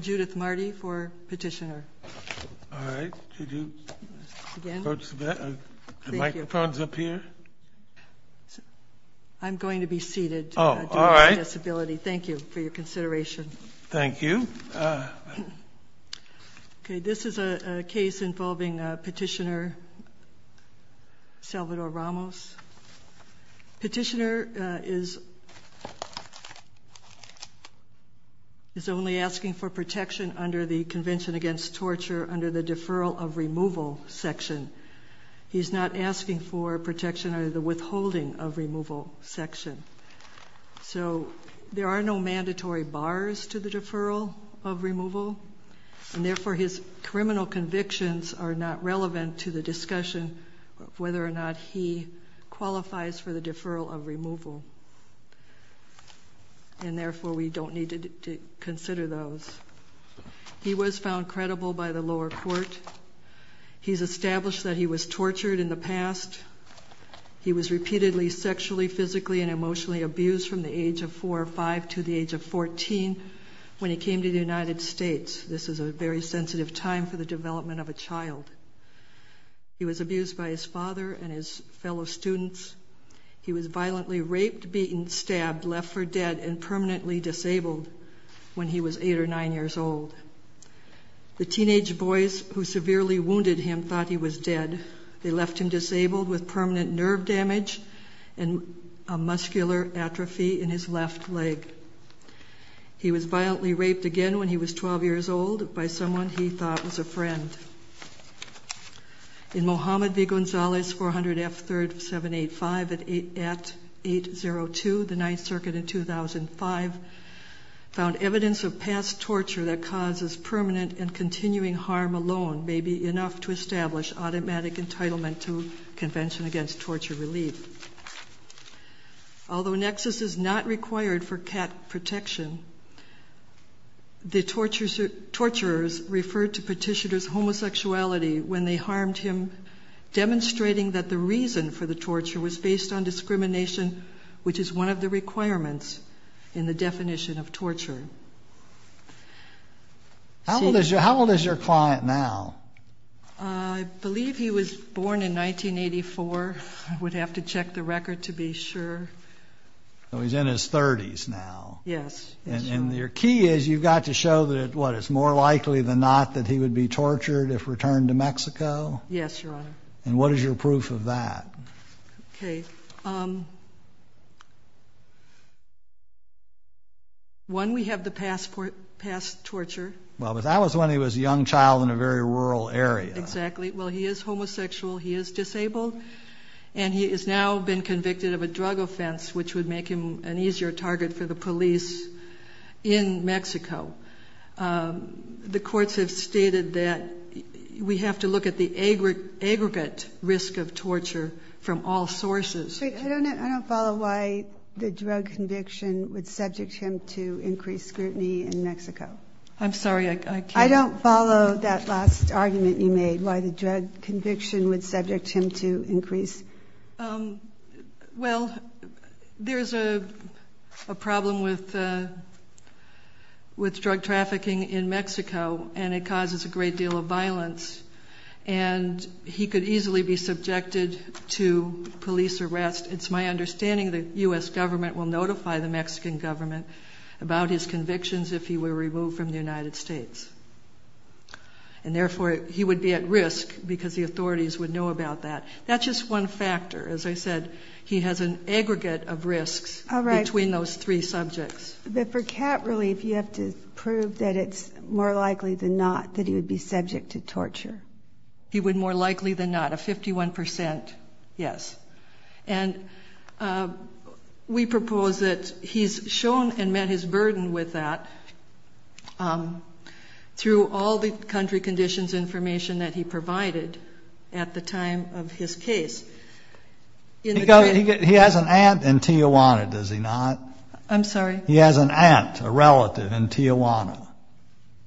Judith Marti for Petitioner This is a case involving Petitioner Salvador Ramos. Petitioner is only asking for protection under the Convention Against Torture under the Deferral of Removal section. He is not asking for protection under the Withholding of Removal section. So there are no mandatory bars to the Deferral of Removal and therefore his criminal convictions are not relevant to the discussion of whether or not he qualifies for the Deferral of Removal. And therefore we don't need to consider those. He was found credible by the lower court. He's established that he was tortured in the past. He was repeatedly sexually, physically, and emotionally abused from the age of 4 or 5 to the age of 14 when he came to the United States. This is a very sensitive time for the development of a child. He was abused by his father and his fellow students. He was violently raped, beaten, stabbed, left for dead, and permanently disabled when he was 8 or 9 years old. The teenage boys who severely wounded him thought he was dead. They left him disabled with permanent nerve damage and a muscular atrophy in his left leg. He was violently raped again when he was 12 years old by someone he thought was a friend. In Mohammed V. Gonzalez, 400 F. 3rd 785 at 802, the 9th Circuit in 2005 found evidence of past torture that causes permanent and continuing harm alone may be enough to establish automatic entitlement to Convention Against Torture Relief. Although NEXUS is not required for CAT protection, the torturers referred to Petitioner's homosexuality when they harmed him, demonstrating that the reason for the torture was based on discrimination, which is one of the requirements in the definition of torture. How old is your client now? I believe he was born in 1984. I would have to check the record to be sure. So he's in his 30s now. Yes. And your key is you've got to show that, what, it's more likely than not that he would be tortured if returned to Mexico? Yes, Your Honor. And what is your proof of that? Okay. One, we have the past torture. Well, but that was when he was a young child in a very rural area. Exactly. Well, he is homosexual. He is disabled. And he has now been convicted of a drug offense, which would make him an easier target for the police in Mexico. The courts have stated that we have to look at the aggregate risk of torture from all sources. I don't follow why the drug conviction would subject him to increased scrutiny in Mexico. I'm sorry, I can't. I don't follow that last argument you made, why the drug conviction would subject him to increase. Well, there's a problem with drug trafficking in Mexico, and it causes a great deal of violence. And he could easily be subjected to police arrest. It's my understanding the U.S. government will notify the Mexican government about his And therefore, he would be at risk because the authorities would know about that. That's just one factor. As I said, he has an aggregate of risks between those three subjects. But for cat relief, you have to prove that it's more likely than not that he would be subject to torture. He would more likely than not, a 51 percent, yes. And we propose that he's shown and met his burden with that through all the country conditions information that he provided at the time of his case. He has an aunt in Tijuana, does he not? I'm sorry? He has an aunt, a relative in Tijuana.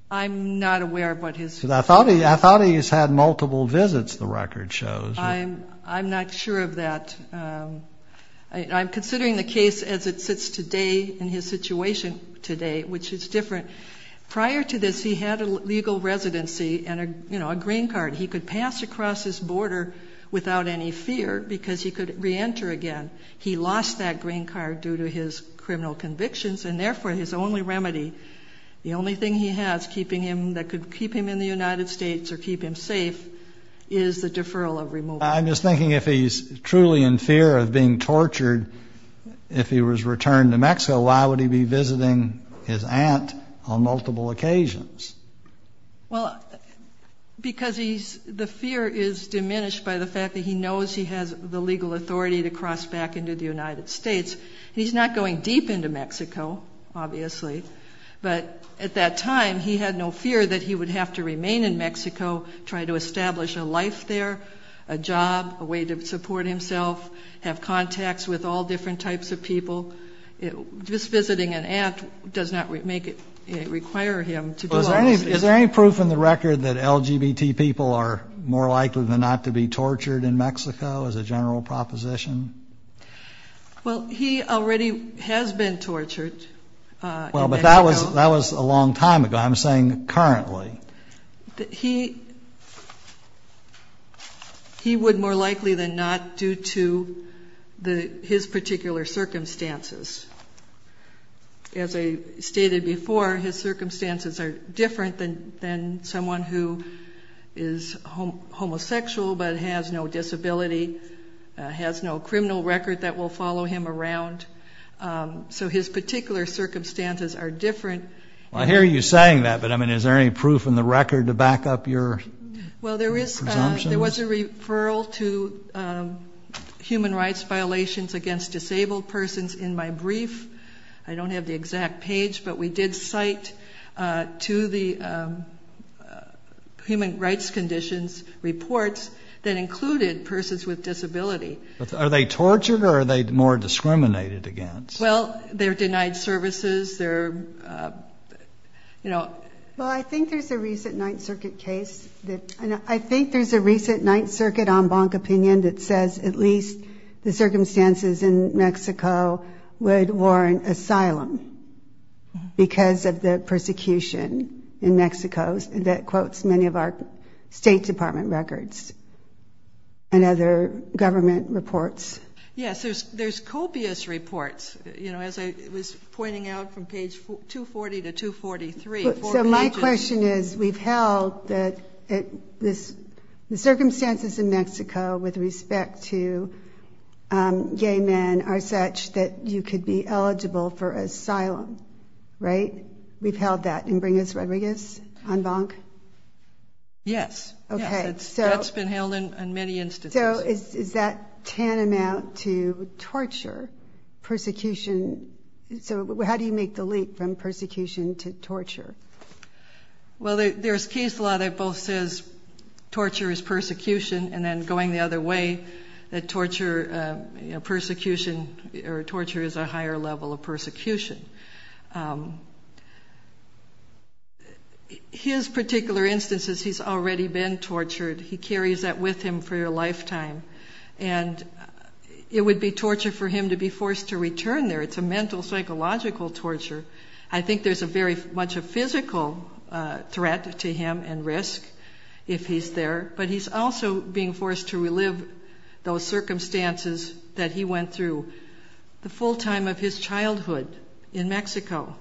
I'm not aware of what his. I thought he had multiple visits, the record shows. I'm not sure of that. I'm considering the case as it sits today in his situation today, which is different. Prior to this, he had a legal residency and a green card. He could pass across his border without any fear because he could reenter again. He lost that green card due to his criminal convictions and therefore his only remedy. The only thing he has keeping him that could keep him in the United States or keep him safe is the deferral of removal. I'm just thinking if he's truly in fear of being tortured, if he was returned to Mexico, why would he be visiting his aunt on multiple occasions? Well, because he's the fear is diminished by the fact that he knows he has the legal authority to cross back into the United States. He's not going deep into Mexico, obviously. But at that time, he had no fear that he would have to remain in Mexico, try to establish a life there, a job, a way to support himself, have contacts with all different types of people. Just visiting an aunt does not make it require him to do all this. Is there any proof in the record that LGBT people are more likely than not to be tortured in Mexico as a general proposition? Well, he already has been tortured. Well, but that was a long time ago. I'm saying currently. He would more likely than not due to his particular circumstances. As I stated before, his circumstances are different than someone who is homosexual but has no disability, has no criminal record that will follow him around. So his particular circumstances are different. I hear you saying that, but I mean, is there any proof in the record to back up your presumptions? Well, there was a referral to human rights violations against disabled persons in my brief. I don't have the exact page, but we did cite to the human rights conditions reports that included persons with disability. Are they tortured or are they more discriminated against? Well, they're denied services. Well, I think there's a recent Ninth Circuit case, and I think there's a recent Ninth Circuit en banc opinion that says at least the circumstances in Mexico would warrant asylum because of the persecution in Mexico that quotes many of our State Department records. And other government reports. Yes, there's copious reports, you know, as I was pointing out from page 240 to 243. So my question is, we've held that the circumstances in Mexico with respect to gay men are such that you could be eligible for asylum, right? We've held that. And bring us Rodriguez en banc? Yes. That's been held in many instances. So is that tantamount to torture, persecution? So how do you make the leap from persecution to torture? Well, there's case law that both says torture is persecution, and then going the other way, that torture is a higher level of persecution. His particular instance is he's already been tortured. He carries that with him for a lifetime. And it would be torture for him to be forced to return there. It's a mental, psychological torture. I think there's very much a physical threat to him and risk if he's there. But he's also being forced to relive those circumstances that he went through. The full time of his childhood in Mexico.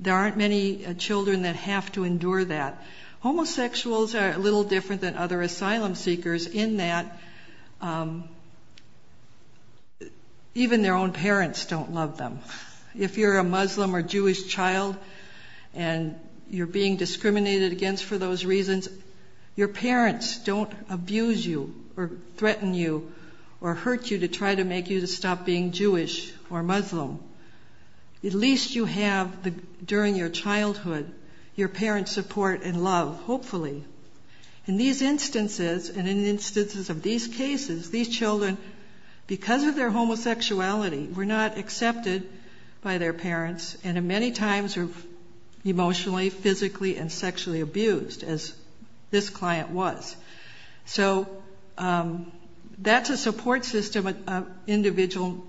There aren't many children that have to endure that. Homosexuals are a little different than other asylum seekers in that even their own parents don't love them. If you're a Muslim or Jewish child and you're being discriminated against for those reasons, your parents don't abuse you or threaten you or hurt you to try to make you to stop being Jewish or Muslim. At least you have, during your childhood, your parents' support and love, hopefully. In these instances, and in instances of these cases, these children, because of their homosexuality, were not accepted by their parents and many times were emotionally, physically, and sexually abused, as this client was. So that's a support system an individual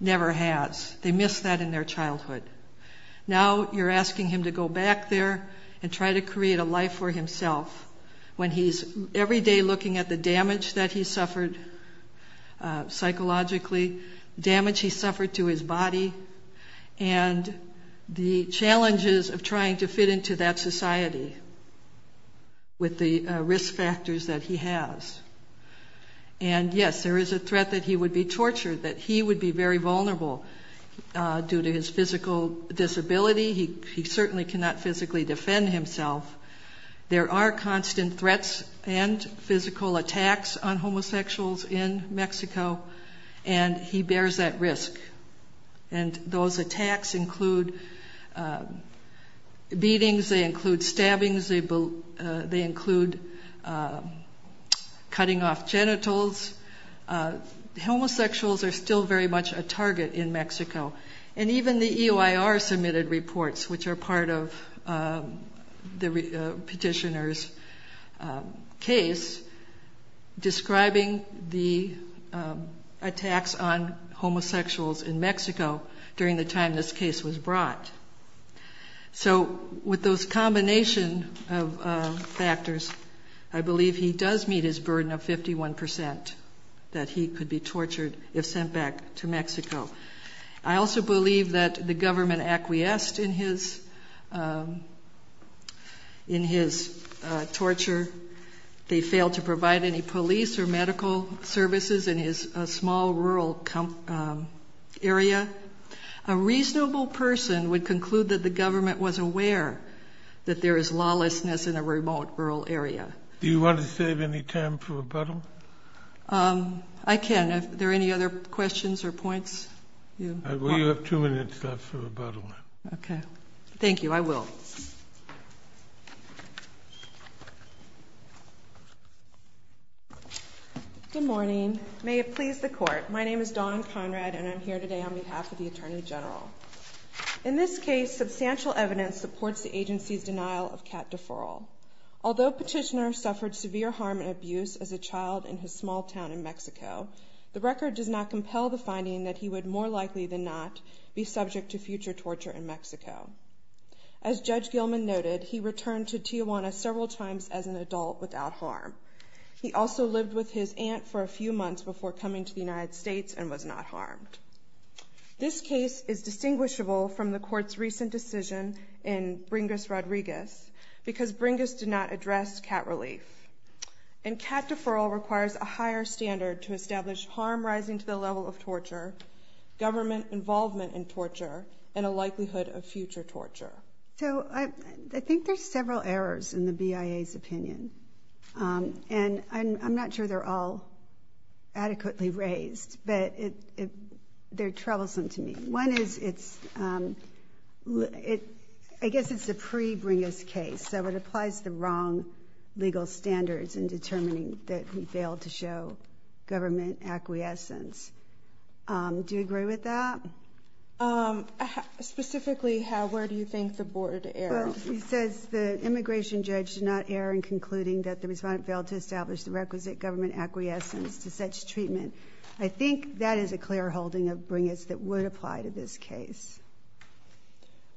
never has. They missed that in their childhood. Now you're asking him to go back there and try to create a life for himself when he's every day looking at the damage that he suffered psychologically, damage he suffered to his body, and the challenges of trying to fit into that society with the risk factors that he has. And yes, there is a threat that he would be tortured, that he would be very vulnerable due to his physical disability. He certainly cannot physically defend himself. There are constant threats and physical attacks on homosexuals in Mexico and he bears that risk. And those attacks include beatings, they include stabbings, they include cutting off genitals. Homosexuals are still very much a target in Mexico. And even the EOIR submitted reports, which are part of the petitioner's case, describing the attacks on homosexuals in Mexico during the time this case was brought. So with those combination of factors, I believe he does meet his burden of 51% that he could be tortured if sent back to Mexico. I also believe that the government acquiesced in his torture. They failed to provide any police or medical services in his small rural area. A reasonable person would conclude that the government was aware that there is lawlessness in a remote rural area. Do you want to save any time for rebuttal? I can. Are there any other questions or points? We have two minutes left for rebuttal. Okay. Thank you. I will. Good morning. May it please the Court. My name is Dawn Conrad, and I'm here today on behalf of the Attorney General. In this case, substantial evidence supports the agency's denial of cat deferral. Although Petitioner suffered severe harm and abuse as a child in his small town in Mexico, the record does not compel the finding that he would more likely than not be subject to future torture in Mexico. As Judge Gilman noted, he returned to Tijuana several times as an adult without harm. He also lived with his aunt for a few months before coming to the United States and was not harmed. This case is distinguishable from the Court's recent decision in Bringas-Rodriguez because Bringas did not address cat relief. And cat deferral requires a higher standard to establish harm rising to the level of torture, government involvement in torture, and a likelihood of future torture. So, I think there's several errors in the BIA's opinion, and I'm not sure they're all adequately raised, but they're troublesome to me. One is, I guess it's a pre-Bringas case, so it applies the wrong legal standards in determining that he failed to show the requisite government acquiescence. Do you agree with that? Specifically, where do you think the board erred? It says the immigration judge did not err in concluding that the respondent failed to establish the requisite government acquiescence to such treatment. I think that is a clear holding of Bringas that would apply to this case.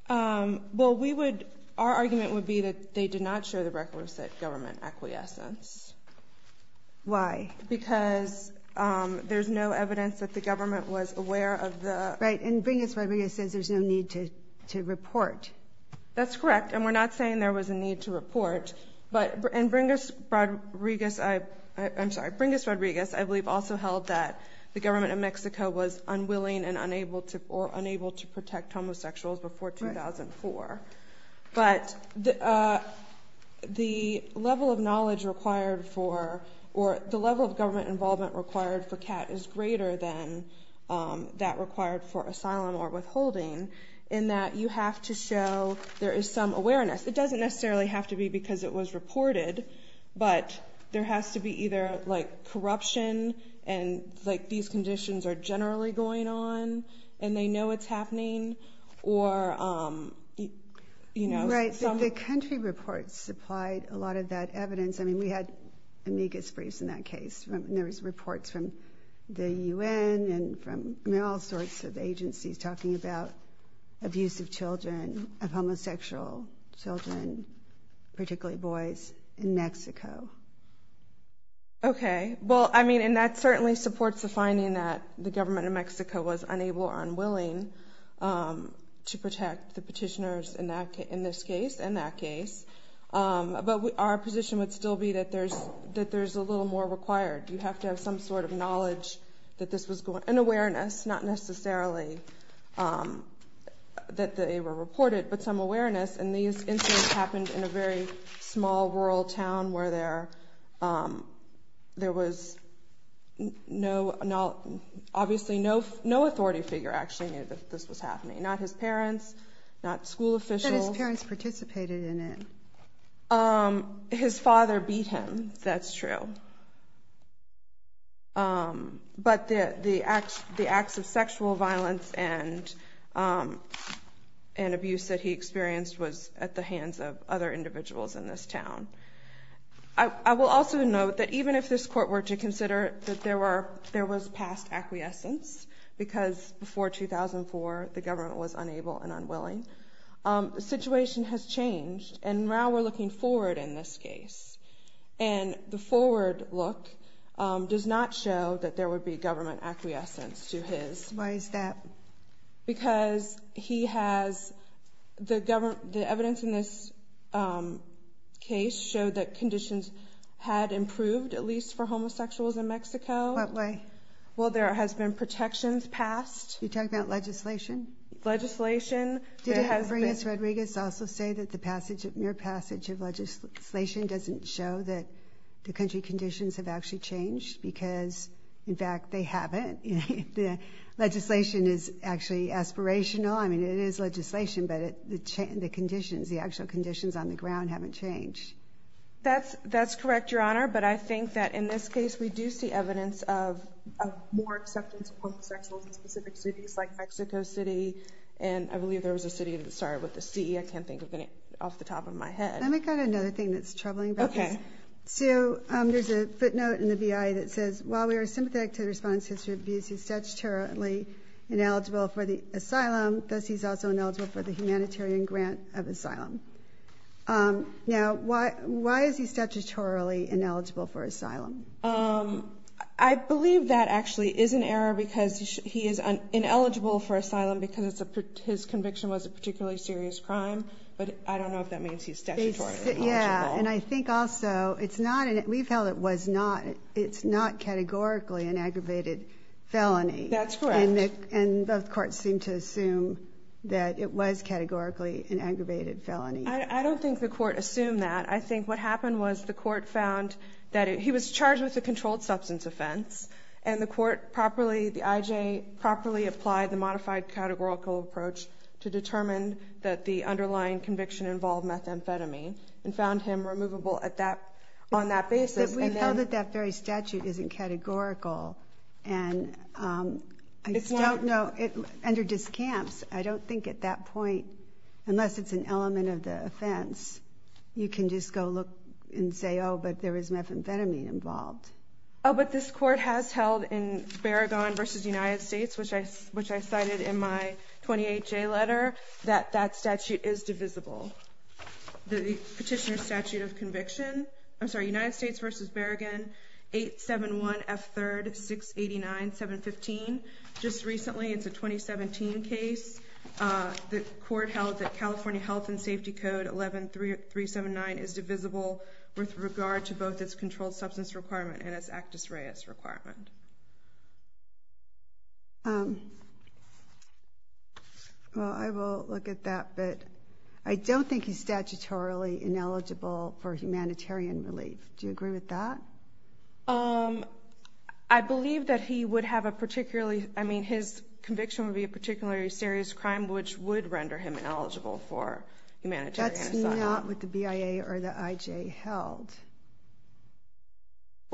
Well, our argument would be that they did not show the requisite government acquiescence. Why? Because there's no evidence that the government was aware of the... Right, and Bringas-Rodriguez says there's no need to report. That's correct, and we're not saying there was a need to report. But in Bringas-Rodriguez, I believe also held that the government of Mexico was unwilling or unable to protect homosexuals before 2004. But the level of knowledge required for, or the level of government involvement required for CAT is greater than that required for asylum or withholding in that you have to show there is some awareness. It doesn't necessarily have to be because it was reported, but there has to be either corruption, or, you know... Right, the country reports supplied a lot of that evidence. I mean, we had amicus briefs in that case, and there was reports from the UN and from all sorts of agencies talking about abuse of children, of homosexual children, particularly boys, in Mexico. We're not saying that the government of Mexico was unable or unwilling to protect the petitioners in this case and that case. But our position would still be that there's a little more required. You have to have some sort of knowledge that this was going on, and awareness, not necessarily that they were reported, but some awareness. And these incidents happened in a very small rural town where there was obviously no authority figure actually knew that this was happening. Not his parents, not school officials. But his parents participated in it. His father beat him, that's true. But the acts of sexual violence and abuse that he experienced was at the hands of other individuals in this town. I will also note that even if this court were to consider that there was past acquiescence, because before 2004 the government was unable and unwilling, the situation has changed, and now we're looking forward in this case. And the forward look does not show that there would be government acquiescence to his... Why is that? Because he has... The evidence in this case showed that conditions had improved, at least for homosexuals in Mexico. What way? Well, there has been protections passed. You're talking about legislation? Legislation. Did Ingrid Rodriguez also say that the mere passage of legislation doesn't show that the country conditions have actually changed? Because, in fact, they haven't. Legislation is actually aspirational. I mean, it is legislation, but the conditions, the actual conditions on the ground haven't changed. That's correct, Your Honor, but I think that in this case we do see evidence of more acceptance of homosexuals in specific cities like Mexico City, and I believe there was a city that started with a C. I can't think of any off the top of my head. Let me go to another thing that's troubling about this. Okay. So there's a footnote in the BIA that says, while we are sympathetic to the respondent's history of abuse, he's statutorily ineligible for the asylum, thus he's also ineligible for the humanitarian grant of asylum. Now, why is he statutorily ineligible for asylum? I believe that actually is an error because he is ineligible for asylum because his conviction was a particularly serious crime, but I don't know if that means he's statutorily ineligible. Yeah, and I think also we felt it's not categorically an aggravated felony. That's correct. And both courts seem to assume that it was categorically an aggravated felony. I don't think the court assumed that. I think what happened was the court found that he was charged with a controlled substance offense and the IJ properly applied the modified categorical approach to determine that the underlying conviction involved methamphetamine and found him removable on that basis. But we know that that very statute isn't categorical, and I just don't know. Under discounts, I don't think at that point, unless it's an element of the offense, you can just go look and say, oh, but there is methamphetamine involved. Oh, but this court has held in Sparagon v. United States, which I cited in my 28J letter, that that statute is divisible. The petitioner's statute of conviction, I'm sorry, United States v. Sparagon, 871F3-689-715. Just recently, it's a 2017 case. The court held that California Health and Safety Code 11379 is divisible with regard to both its controlled substance requirement and its actus reus requirement. Okay. Well, I will look at that. But I don't think he's statutorily ineligible for humanitarian relief. Do you agree with that? I believe that he would have a particularly, I mean, his conviction would be a particularly serious crime, which would render him ineligible for humanitarian asylum. That's not what the BIA or the IJ held.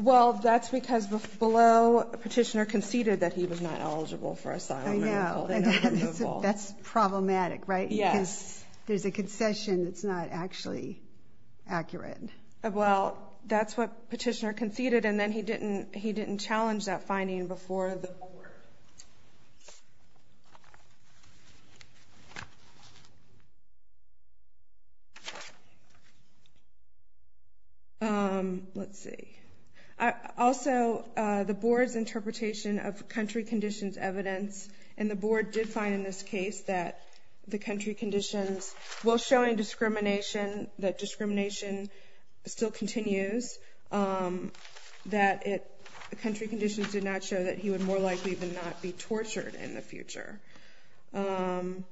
Well, that's because below, petitioner conceded that he was not eligible for asylum. I know. That's problematic, right? Yes. Because there's a concession that's not actually accurate. Well, that's what petitioner conceded, and then he didn't challenge that finding before the board. Let's see. Also, the board's interpretation of country conditions evidence, and the board did find in this case that the country conditions, while showing discrimination, that discrimination still continues, that the country conditions did not show that he would more likely than not be tortured in the future. And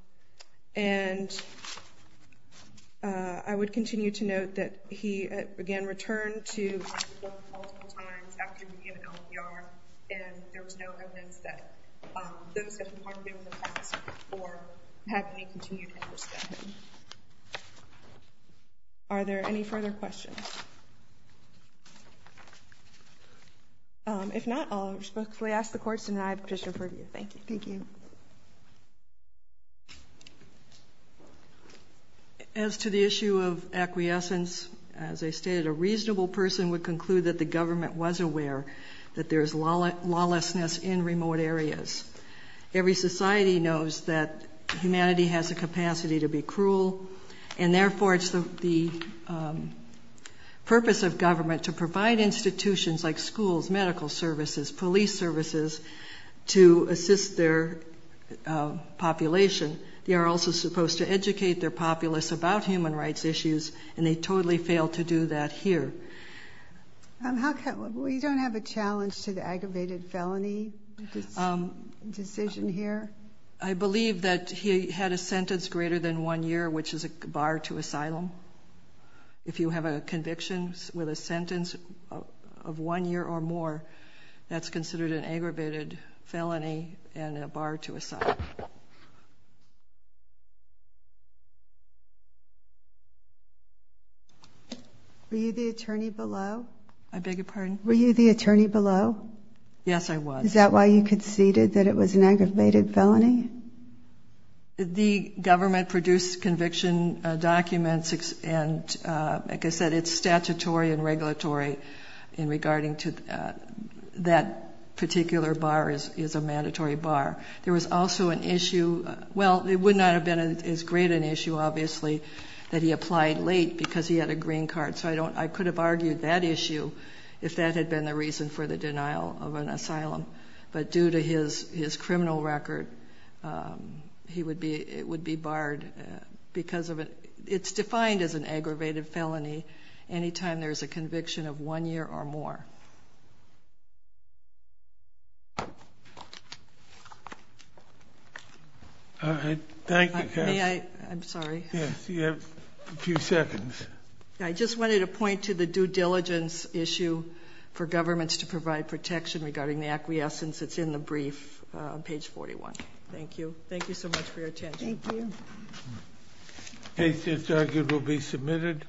I would continue to note that he, again, returned to the court multiple times after he became an LPR, and there was no evidence that those had been part of him in the past or had any continued interest in him. Are there any further questions? If not, I'll respectfully ask the court to deny petitioner purview. Thank you. Thank you. As to the issue of acquiescence, as I stated, a reasonable person would conclude that the government was aware that there is lawlessness in remote areas. Every society knows that humanity has a capacity to be cruel, and therefore it's the purpose of government to provide institutions like schools, medical services, police services to assist their population. They are also supposed to educate their populace about human rights issues, and they totally failed to do that here. We don't have a challenge to the aggravated felony decision here? I believe that he had a sentence greater than one year, which is a bar to asylum. If you have a conviction with a sentence of one year or more, that's considered an aggravated felony and a bar to asylum. Were you the attorney below? I beg your pardon? Were you the attorney below? Yes, I was. Is that why you conceded that it was an aggravated felony? The government produced conviction documents, and like I said, it's statutory and regulatory in regarding to that particular bar is a mandatory bar. There was also an issue – well, it would not have been as great an issue, obviously, that he applied late because he had a green card, so I could have argued that issue if that had been the reason for the denial of an asylum. But due to his criminal record, it would be barred because of it. It's defined as an aggravated felony any time there's a conviction of one year or more. All right, thank you, Kathy. May I? I'm sorry. Yes, you have a few seconds. I just wanted to point to the due diligence issue for governments to provide protection regarding the acquiescence. It's in the brief on page 41. Thank you. Thank you so much for your attention. Thank you. Case is argued will be submitted.